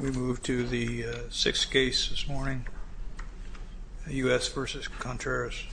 We move to the 6th case this morning, U.S. v. Contreras.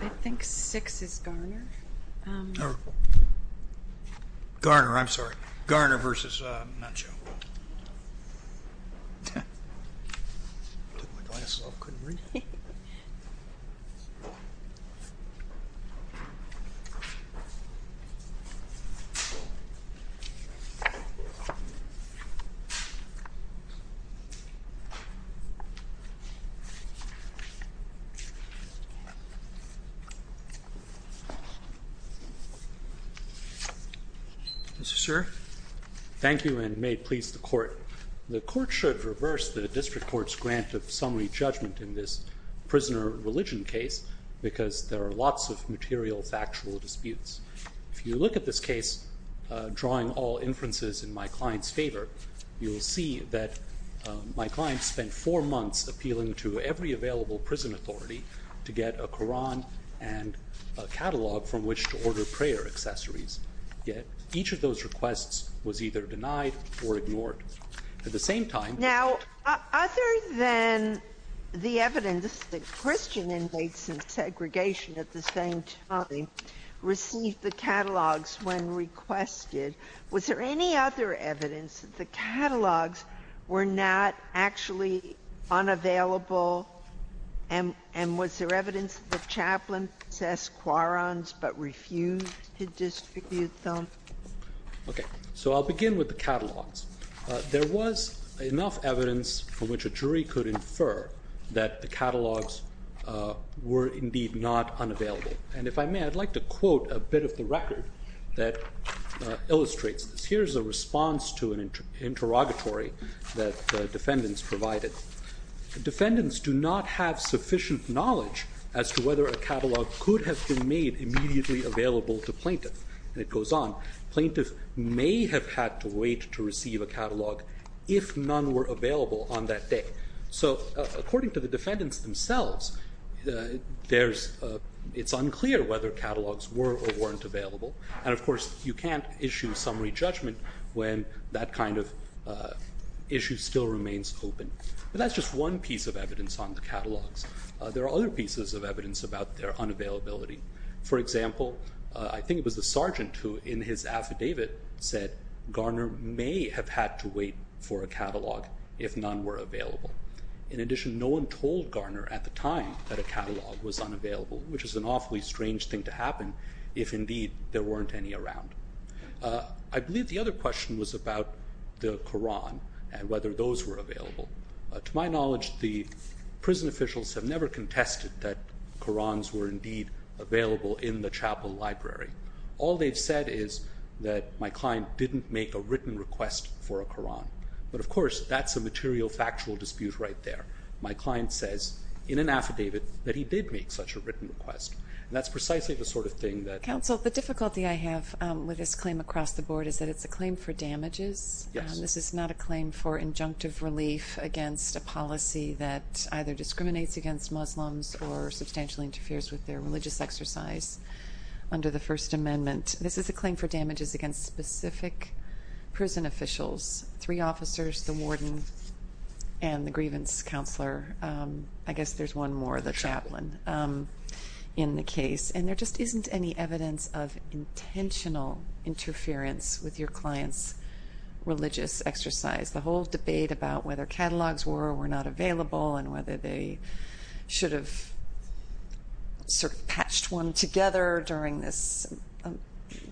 I think 6th is Garner. Garner, I'm sorry. Garner v. Muenchow. Mr. Garner v. Muenchow Yes, sir. Mr. Garner v. Muenchow Okay. So I'll begin with the catalogs. There was enough evidence for which a jury could infer that the catalogs were indeed not unavailable. And if I may, I'd like to quote a bit of the record that illustrates this. Here's a response to an interrogatory that defendants provided. Defendants do not have sufficient knowledge as to whether a catalog could have been made immediately available to plaintiff. And it goes on, plaintiff may have had to wait to receive a catalog if none were available on that day. So according to the defendants themselves, it's unclear whether catalogs were or weren't available. And of course, you can't issue summary judgment when that kind of issue still remains open. But that's just one piece of evidence on the catalogs. There are other pieces of evidence about their unavailability. For example, I think it was the sergeant who in his affidavit said Garner may have had to wait for a catalog if none were available. In addition, no one told Garner at the time that a catalog was unavailable, which is an awfully strange thing to happen if indeed there weren't any around. I believe the other question was about the Quran and whether those were available. To my knowledge, the prison officials have never contested that Qurans were indeed available in the chapel library. All they've said is that my client didn't make a written request for a Quran. But, of course, that's a material factual dispute right there. My client says in an affidavit that he did make such a written request. And that's precisely the sort of thing that- Counsel, the difficulty I have with this claim across the board is that it's a claim for damages. This is not a claim for injunctive relief against a policy that either discriminates against Muslims or substantially interferes with their religious exercise under the First Amendment. This is a claim for damages against specific prison officials, three officers, the warden, and the grievance counselor. I guess there's one more, the chaplain, in the case. And there just isn't any evidence of intentional interference with your client's religious exercise. The whole debate about whether catalogs were or were not available and whether they should have sort of patched one together during this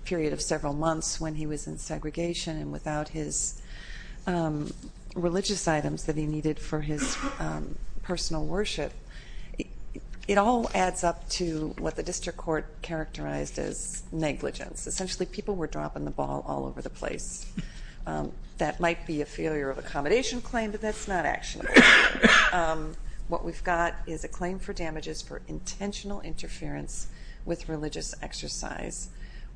period of several months when he was in segregation and without his religious items that he needed for his personal worship. It all adds up to what the district court characterized as negligence. Essentially, people were dropping the ball all over the place. That might be a failure of accommodation claim, but that's not actionable. What we've got is a claim for damages for intentional interference with religious exercise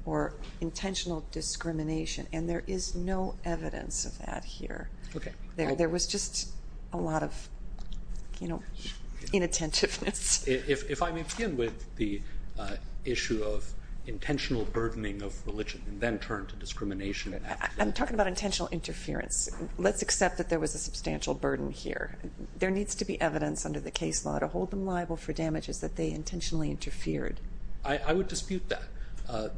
or intentional discrimination. And there is no evidence of that here. There was just a lot of inattentiveness. If I may begin with the issue of intentional burdening of religion and then turn to discrimination. I'm talking about intentional interference. Let's accept that there was a substantial burden here. There needs to be evidence under the case law to hold them liable for damages that they intentionally interfered. I would dispute that.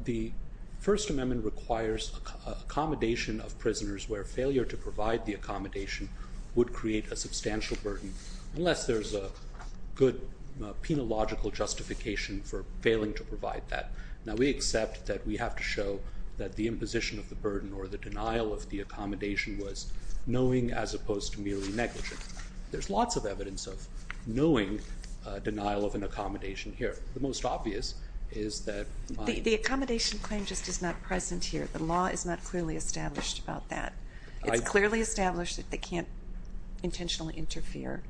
The First Amendment requires accommodation of prisoners where failure to provide the accommodation would create a substantial burden unless there's a good penological justification for failing to provide that. Now, we accept that we have to show that the imposition of the burden or the denial of the accommodation was knowing as opposed to merely negligence. There's lots of evidence of knowing denial of an accommodation here. The most obvious is that the accommodation claim just is not present here. The law is not clearly established about that. It's clearly established that they can't intentionally interfere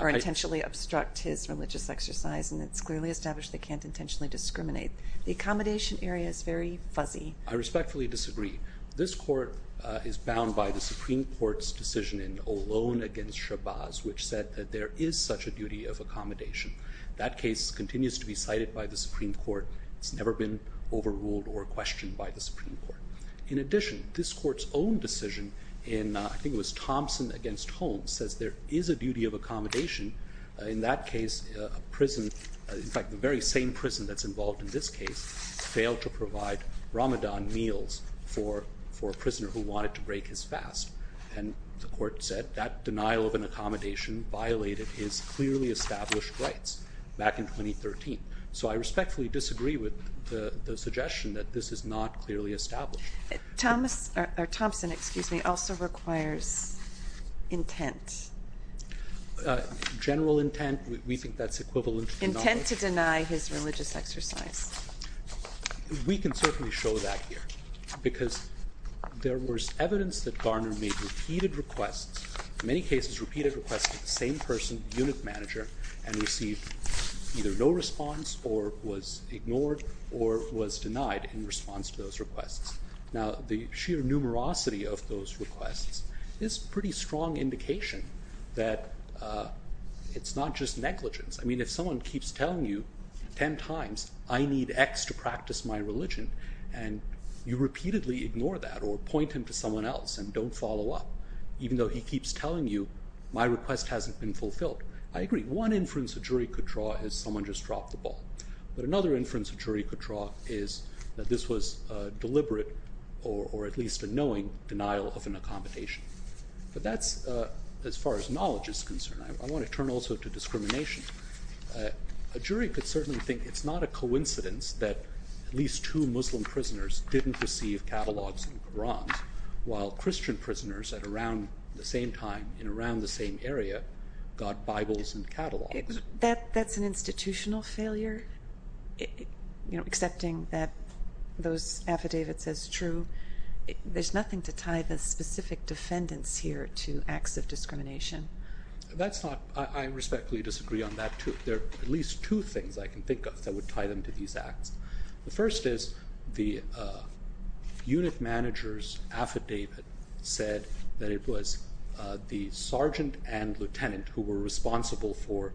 or intentionally obstruct his religious exercise. And it's clearly established they can't intentionally discriminate. The accommodation area is very fuzzy. I respectfully disagree. This court is bound by the Supreme Court's decision in Olón against Chabaz, which said that there is such a duty of accommodation. That case continues to be cited by the Supreme Court. It's never been overruled or questioned by the Supreme Court. In addition, this court's own decision in, I think it was Thompson against Holmes, says there is a duty of accommodation. In that case, a prison, in fact, the very same prison that's involved in this case, failed to provide Ramadan meals for a prisoner who wanted to break his fast. And the court said that denial of an accommodation violated his clearly established rights back in 2013. So I respectfully disagree with the suggestion that this is not clearly established. Thompson also requires intent. General intent. We think that's equivalent. Intent to deny his religious exercise. We can certainly show that here because there was evidence that Garner made repeated requests, in many cases repeated requests to the same person, unit manager, and received either no response or was ignored or was denied in response to those requests. Now, the sheer numerosity of those requests is a pretty strong indication that it's not just negligence. I mean, if someone keeps telling you 10 times, I need X to practice my religion, and you repeatedly ignore that or point him to someone else and don't follow up, even though he keeps telling you, my request hasn't been fulfilled, I agree. One inference a jury could draw is someone just dropped the ball. But another inference a jury could draw is that this was deliberate or at least a knowing denial of an accommodation. I want to turn also to discrimination. A jury could certainly think it's not a coincidence that at least two Muslim prisoners didn't receive catalogs and Qurans, while Christian prisoners at around the same time in around the same area got Bibles and catalogs. That's an institutional failure, accepting that those affidavits as true. There's nothing to tie the specific defendants here to acts of discrimination. I respectfully disagree on that, too. There are at least two things I can think of that would tie them to these acts. The first is the unit manager's affidavit said that it was the sergeant and lieutenant who were responsible for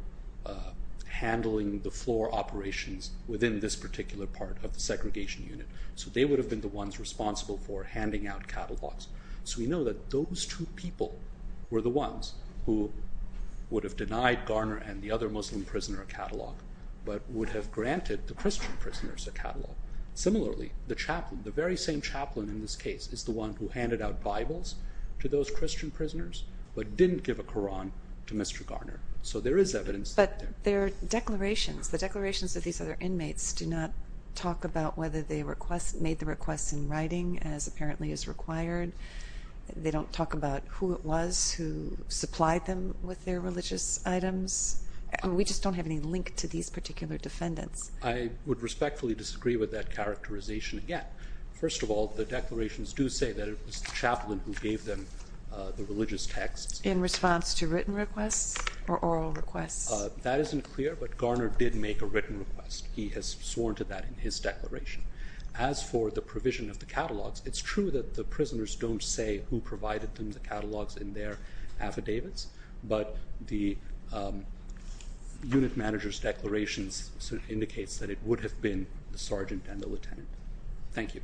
handling the floor operations within this particular part of the segregation unit. They would have been the ones responsible for handing out catalogs. We know that those two people were the ones who would have denied Garner and the other Muslim prisoner a catalog, but would have granted the Christian prisoners a catalog. Similarly, the very same chaplain in this case is the one who handed out Bibles to those Christian prisoners, but didn't give a Quran to Mr. Garner. But the declarations of these other inmates do not talk about whether they made the requests in writing, as apparently is required. They don't talk about who it was who supplied them with their religious items. We just don't have any link to these particular defendants. I would respectfully disagree with that characterization again. First of all, the declarations do say that it was the chaplain who gave them the religious texts. In response to written requests or oral requests? That isn't clear, but Garner did make a written request. He has sworn to that in his declaration. As for the provision of the catalogs, it's true that the prisoners don't say who provided them the catalogs in their affidavits, but the unit manager's declarations indicates that it would have been the sergeant and the lieutenant. Thank you.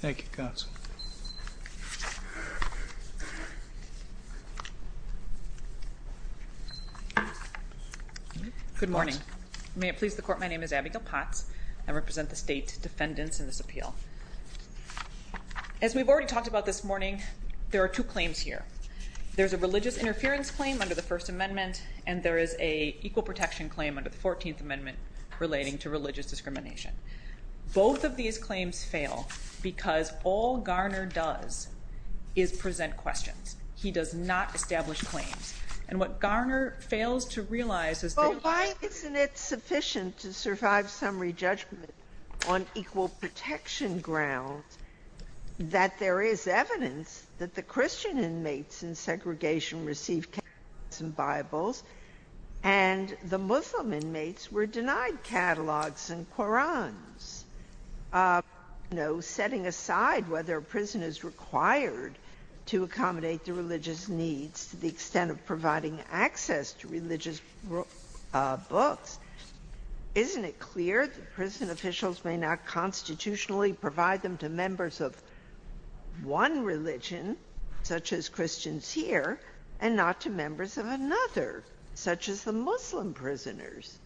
Thank you, counsel. Good morning. May it please the court, my name is Abigail Potts. I represent the state defendants in this appeal. As we've already talked about this morning, there are two claims here. There's a religious interference claim under the First Amendment, and there is a equal protection claim under the Fourteenth Amendment relating to religious discrimination. Both of these claims fail because all Garner does is present questions. He does not establish claims. And what Garner fails to realize is that why isn't it sufficient to survive summary judgment on equal protection grounds that there is evidence that the Christian inmates in segregation received catalogs and Bibles and the Muslim inmates were denied catalogs and Qurans? Setting aside whether a prison is required to accommodate the religious needs to the extent of providing access to religious books, isn't it clear that prison officials may not constitutionally provide them to members of one religion, such as Christians here, and not to members of another, such as the Muslim prisoners?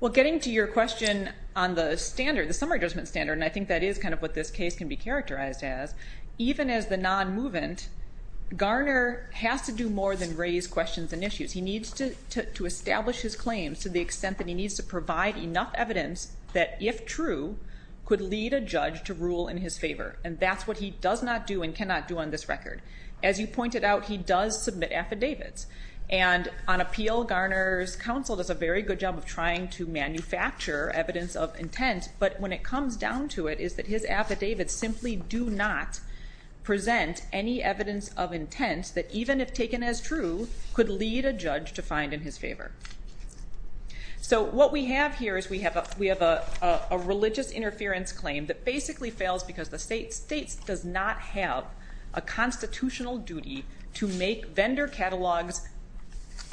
Well, getting to your question on the standard, the summary judgment standard, and I think that is kind of what this case can be characterized as, even as the non-movement, Garner has to do more than raise questions and issues. He needs to establish his claims to the extent that he needs to provide enough evidence that, if true, could lead a judge to rule in his favor. And that's what he does not do and cannot do on this record. As you pointed out, he does submit affidavits. And on appeal, Garner's counsel does a very good job of trying to manufacture evidence of intent, but when it comes down to it is that his affidavits simply do not present any evidence of intent that, even if taken as true, could lead a judge to find in his favor. So what we have here is we have a religious interference claim that basically fails because the state does not have a constitutional duty to make vendor catalogs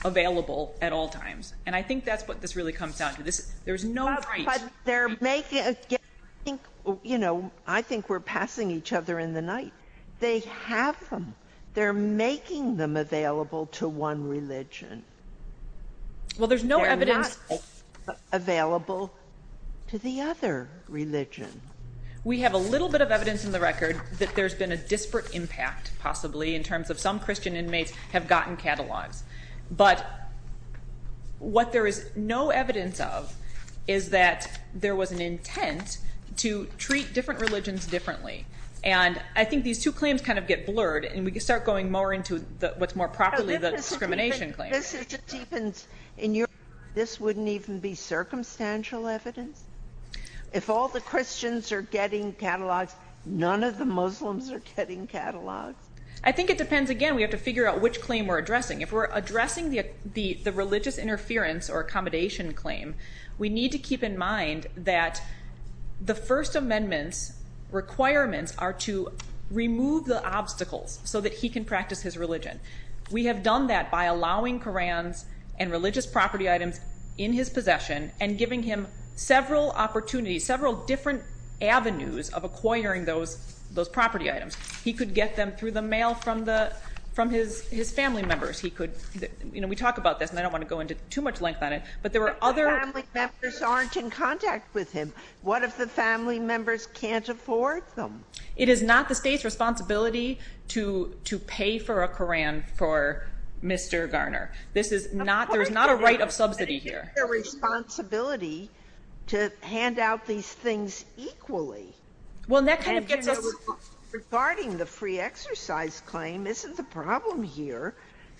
available at all times. And I think that's what this really comes down to. There's no right. But they're making, again, I think we're passing each other in the night. They have them. They're making them available to one religion. They're not available to the other religion. We have a little bit of evidence in the record that there's been a disparate impact, possibly, in terms of some Christian inmates have gotten catalogs. But what there is no evidence of is that there was an intent to treat different religions differently. And I think these two claims kind of get blurred, and we can start going more into what's more properly the discrimination claim. But this is just even, in your view, this wouldn't even be circumstantial evidence? If all the Christians are getting catalogs, none of the Muslims are getting catalogs? I think it depends. Again, we have to figure out which claim we're addressing. If we're addressing the religious interference or accommodation claim, we need to keep in mind that the First Amendment's requirements are to remove the obstacles so that he can practice his religion. We have done that by allowing Qurans and religious property items in his possession and giving him several opportunities, several different avenues of acquiring those property items. He could get them through the mail from his family members. We talk about this, and I don't want to go into too much length on it, but there were other... If the family members aren't in contact with him, what if the family members can't afford them? It is not the state's responsibility to pay for a Quran for Mr. Garner. There is not a right of subsidy here. It's their responsibility to hand out these things equally. Well, that kind of gets us... Regarding the free exercise claim, isn't the problem here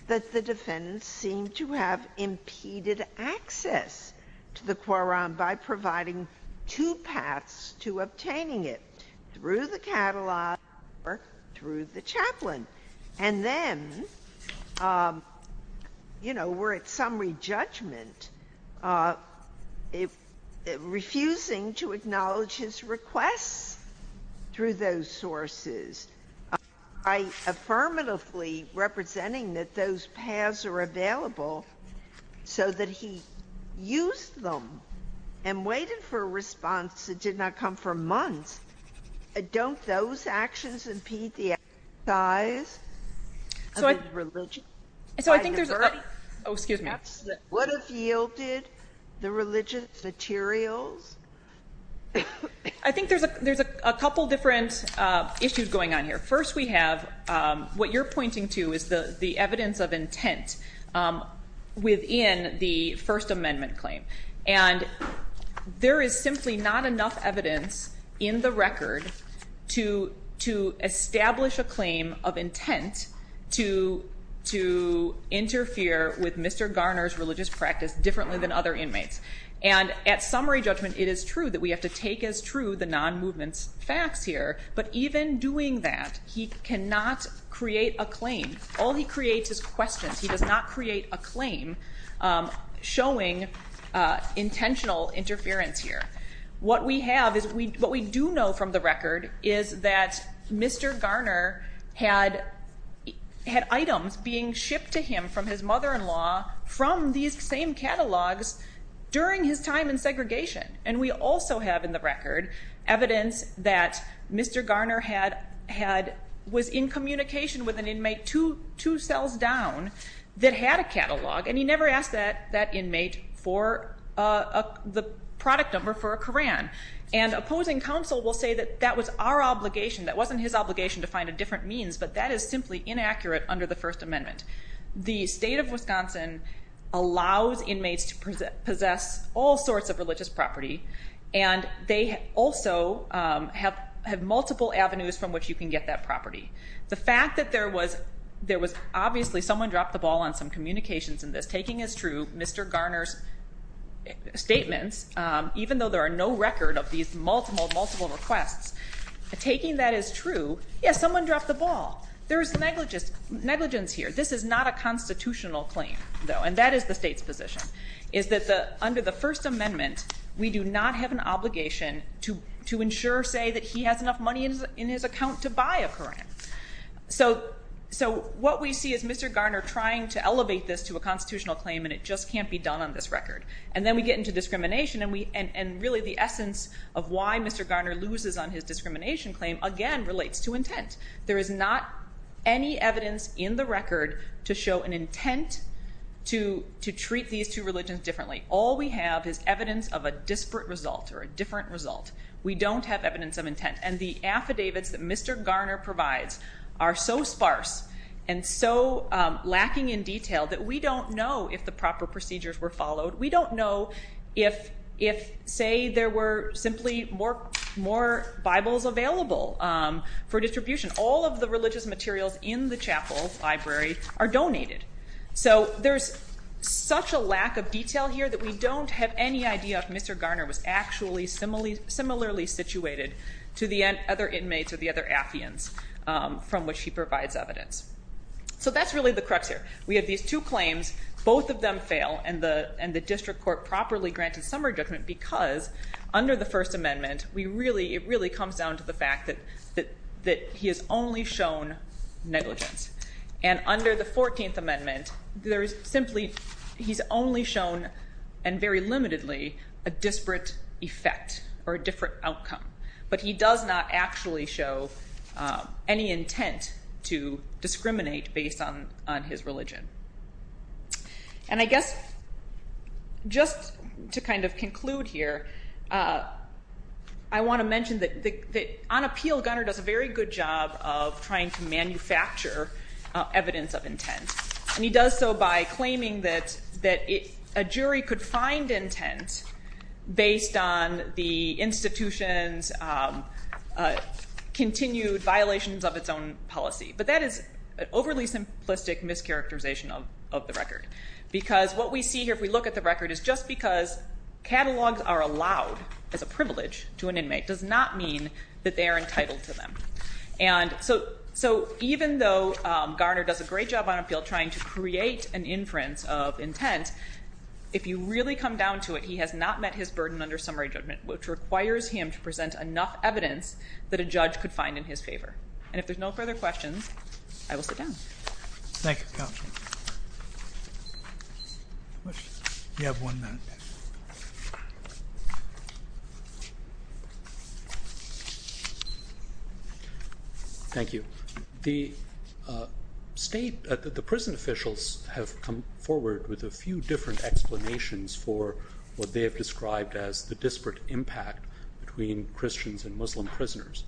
that the defendants seem to have impeded access to the Quran by providing two paths to obtaining it, through the catalog or through the chaplain? And then, you know, we're at summary judgment, refusing to acknowledge his requests through those sources. By affirmatively representing that those paths are available, so that he used them and waited for a response that did not come for months. Don't those actions impede the exercise of the religion? So I think there's... Oh, excuse me. What if he yielded the religious materials? I think there's a couple different issues going on here. First, we have what you're pointing to is the evidence of intent within the First Amendment claim. And there is simply not enough evidence in the record to establish a claim of intent to interfere with Mr. Garner's religious practice differently than other inmates. And at summary judgment, it is true that we have to take as true the non-movement facts here. But even doing that, he cannot create a claim. All he creates is questions. He does not create a claim showing intentional interference here. What we do know from the record is that Mr. Garner had items being shipped to him from his mother-in-law from these same catalogs during his time in segregation. And we also have in the record evidence that Mr. Garner was in communication with an inmate two cells down that had a catalog, and he never asked that inmate for the product number for a Quran. And opposing counsel will say that that was our obligation. That wasn't his obligation to find a different means. But that is simply inaccurate under the First Amendment. The state of Wisconsin allows inmates to possess all sorts of religious property, and they also have multiple avenues from which you can get that property. The fact that there was obviously someone dropped the ball on some communications in this, taking as true Mr. Garner's statements, even though there are no record of these multiple, multiple requests, taking that as true, yes, someone dropped the ball. There is negligence here. This is not a constitutional claim, though, and that is the state's position, is that under the First Amendment we do not have an obligation to ensure, say, that he has enough money in his account to buy a Quran. So what we see is Mr. Garner trying to elevate this to a constitutional claim, and it just can't be done on this record. And then we get into discrimination, and really the essence of why Mr. Garner loses on his discrimination claim, again, relates to intent. There is not any evidence in the record to show an intent to treat these two religions differently. All we have is evidence of a disparate result or a different result. We don't have evidence of intent. And the affidavits that Mr. Garner provides are so sparse and so lacking in detail that we don't know if the proper procedures were followed. We don't know if, say, there were simply more Bibles available for distribution. All of the religious materials in the chapel library are donated. So there's such a lack of detail here that we don't have any idea if Mr. Garner was actually similarly situated to the other inmates or the other atheans from which he provides evidence. So that's really the crux here. We have these two claims. Both of them fail, and the district court properly granted some redressment because under the First Amendment, it really comes down to the fact that he has only shown negligence. And under the 14th Amendment, he's only shown, and very limitedly, a disparate effect or a disparate outcome. But he does not actually show any intent to discriminate based on his religion. And I guess just to kind of conclude here, I want to mention that on appeal, Garner does a very good job of trying to manufacture evidence of intent. And he does so by claiming that a jury could find intent based on the institution's continued violations of its own policy. But that is an overly simplistic mischaracterization of the record because what we see here, if we look at the record, is just because catalogs are allowed as a privilege to an inmate does not mean that they are entitled to them. And so even though Garner does a great job on appeal trying to create an inference of intent, if you really come down to it, he has not met his burden under summary judgment, which requires him to present enough evidence that a judge could find in his favor. And if there's no further questions, I will sit down. Thank you, counsel. You have one minute. Thank you. The state, the prison officials have come forward with a few different explanations for what they have described as the disparate impact between Christians and Muslim prisoners.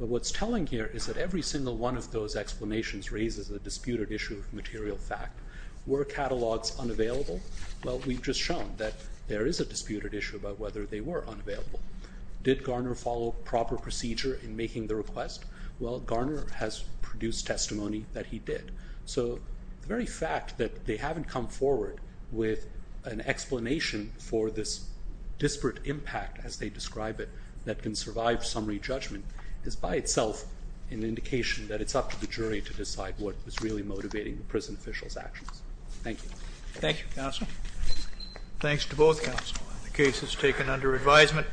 But what's telling here is that every single one of those explanations raises a disputed issue of material fact. Were catalogs unavailable? Well, we've just shown that there is a disputed issue about whether they were unavailable. Did Garner follow proper procedure in making the request? Well, Garner has produced testimony that he did. So the very fact that they haven't come forward with an explanation for this disparate impact, as they describe it, that can survive summary judgment is by itself an indication that it's up to the jury to decide what was really motivating the prison officials' actions. Thank you. Thank you, counsel. Thanks to both counsel. The case is taken under advisement.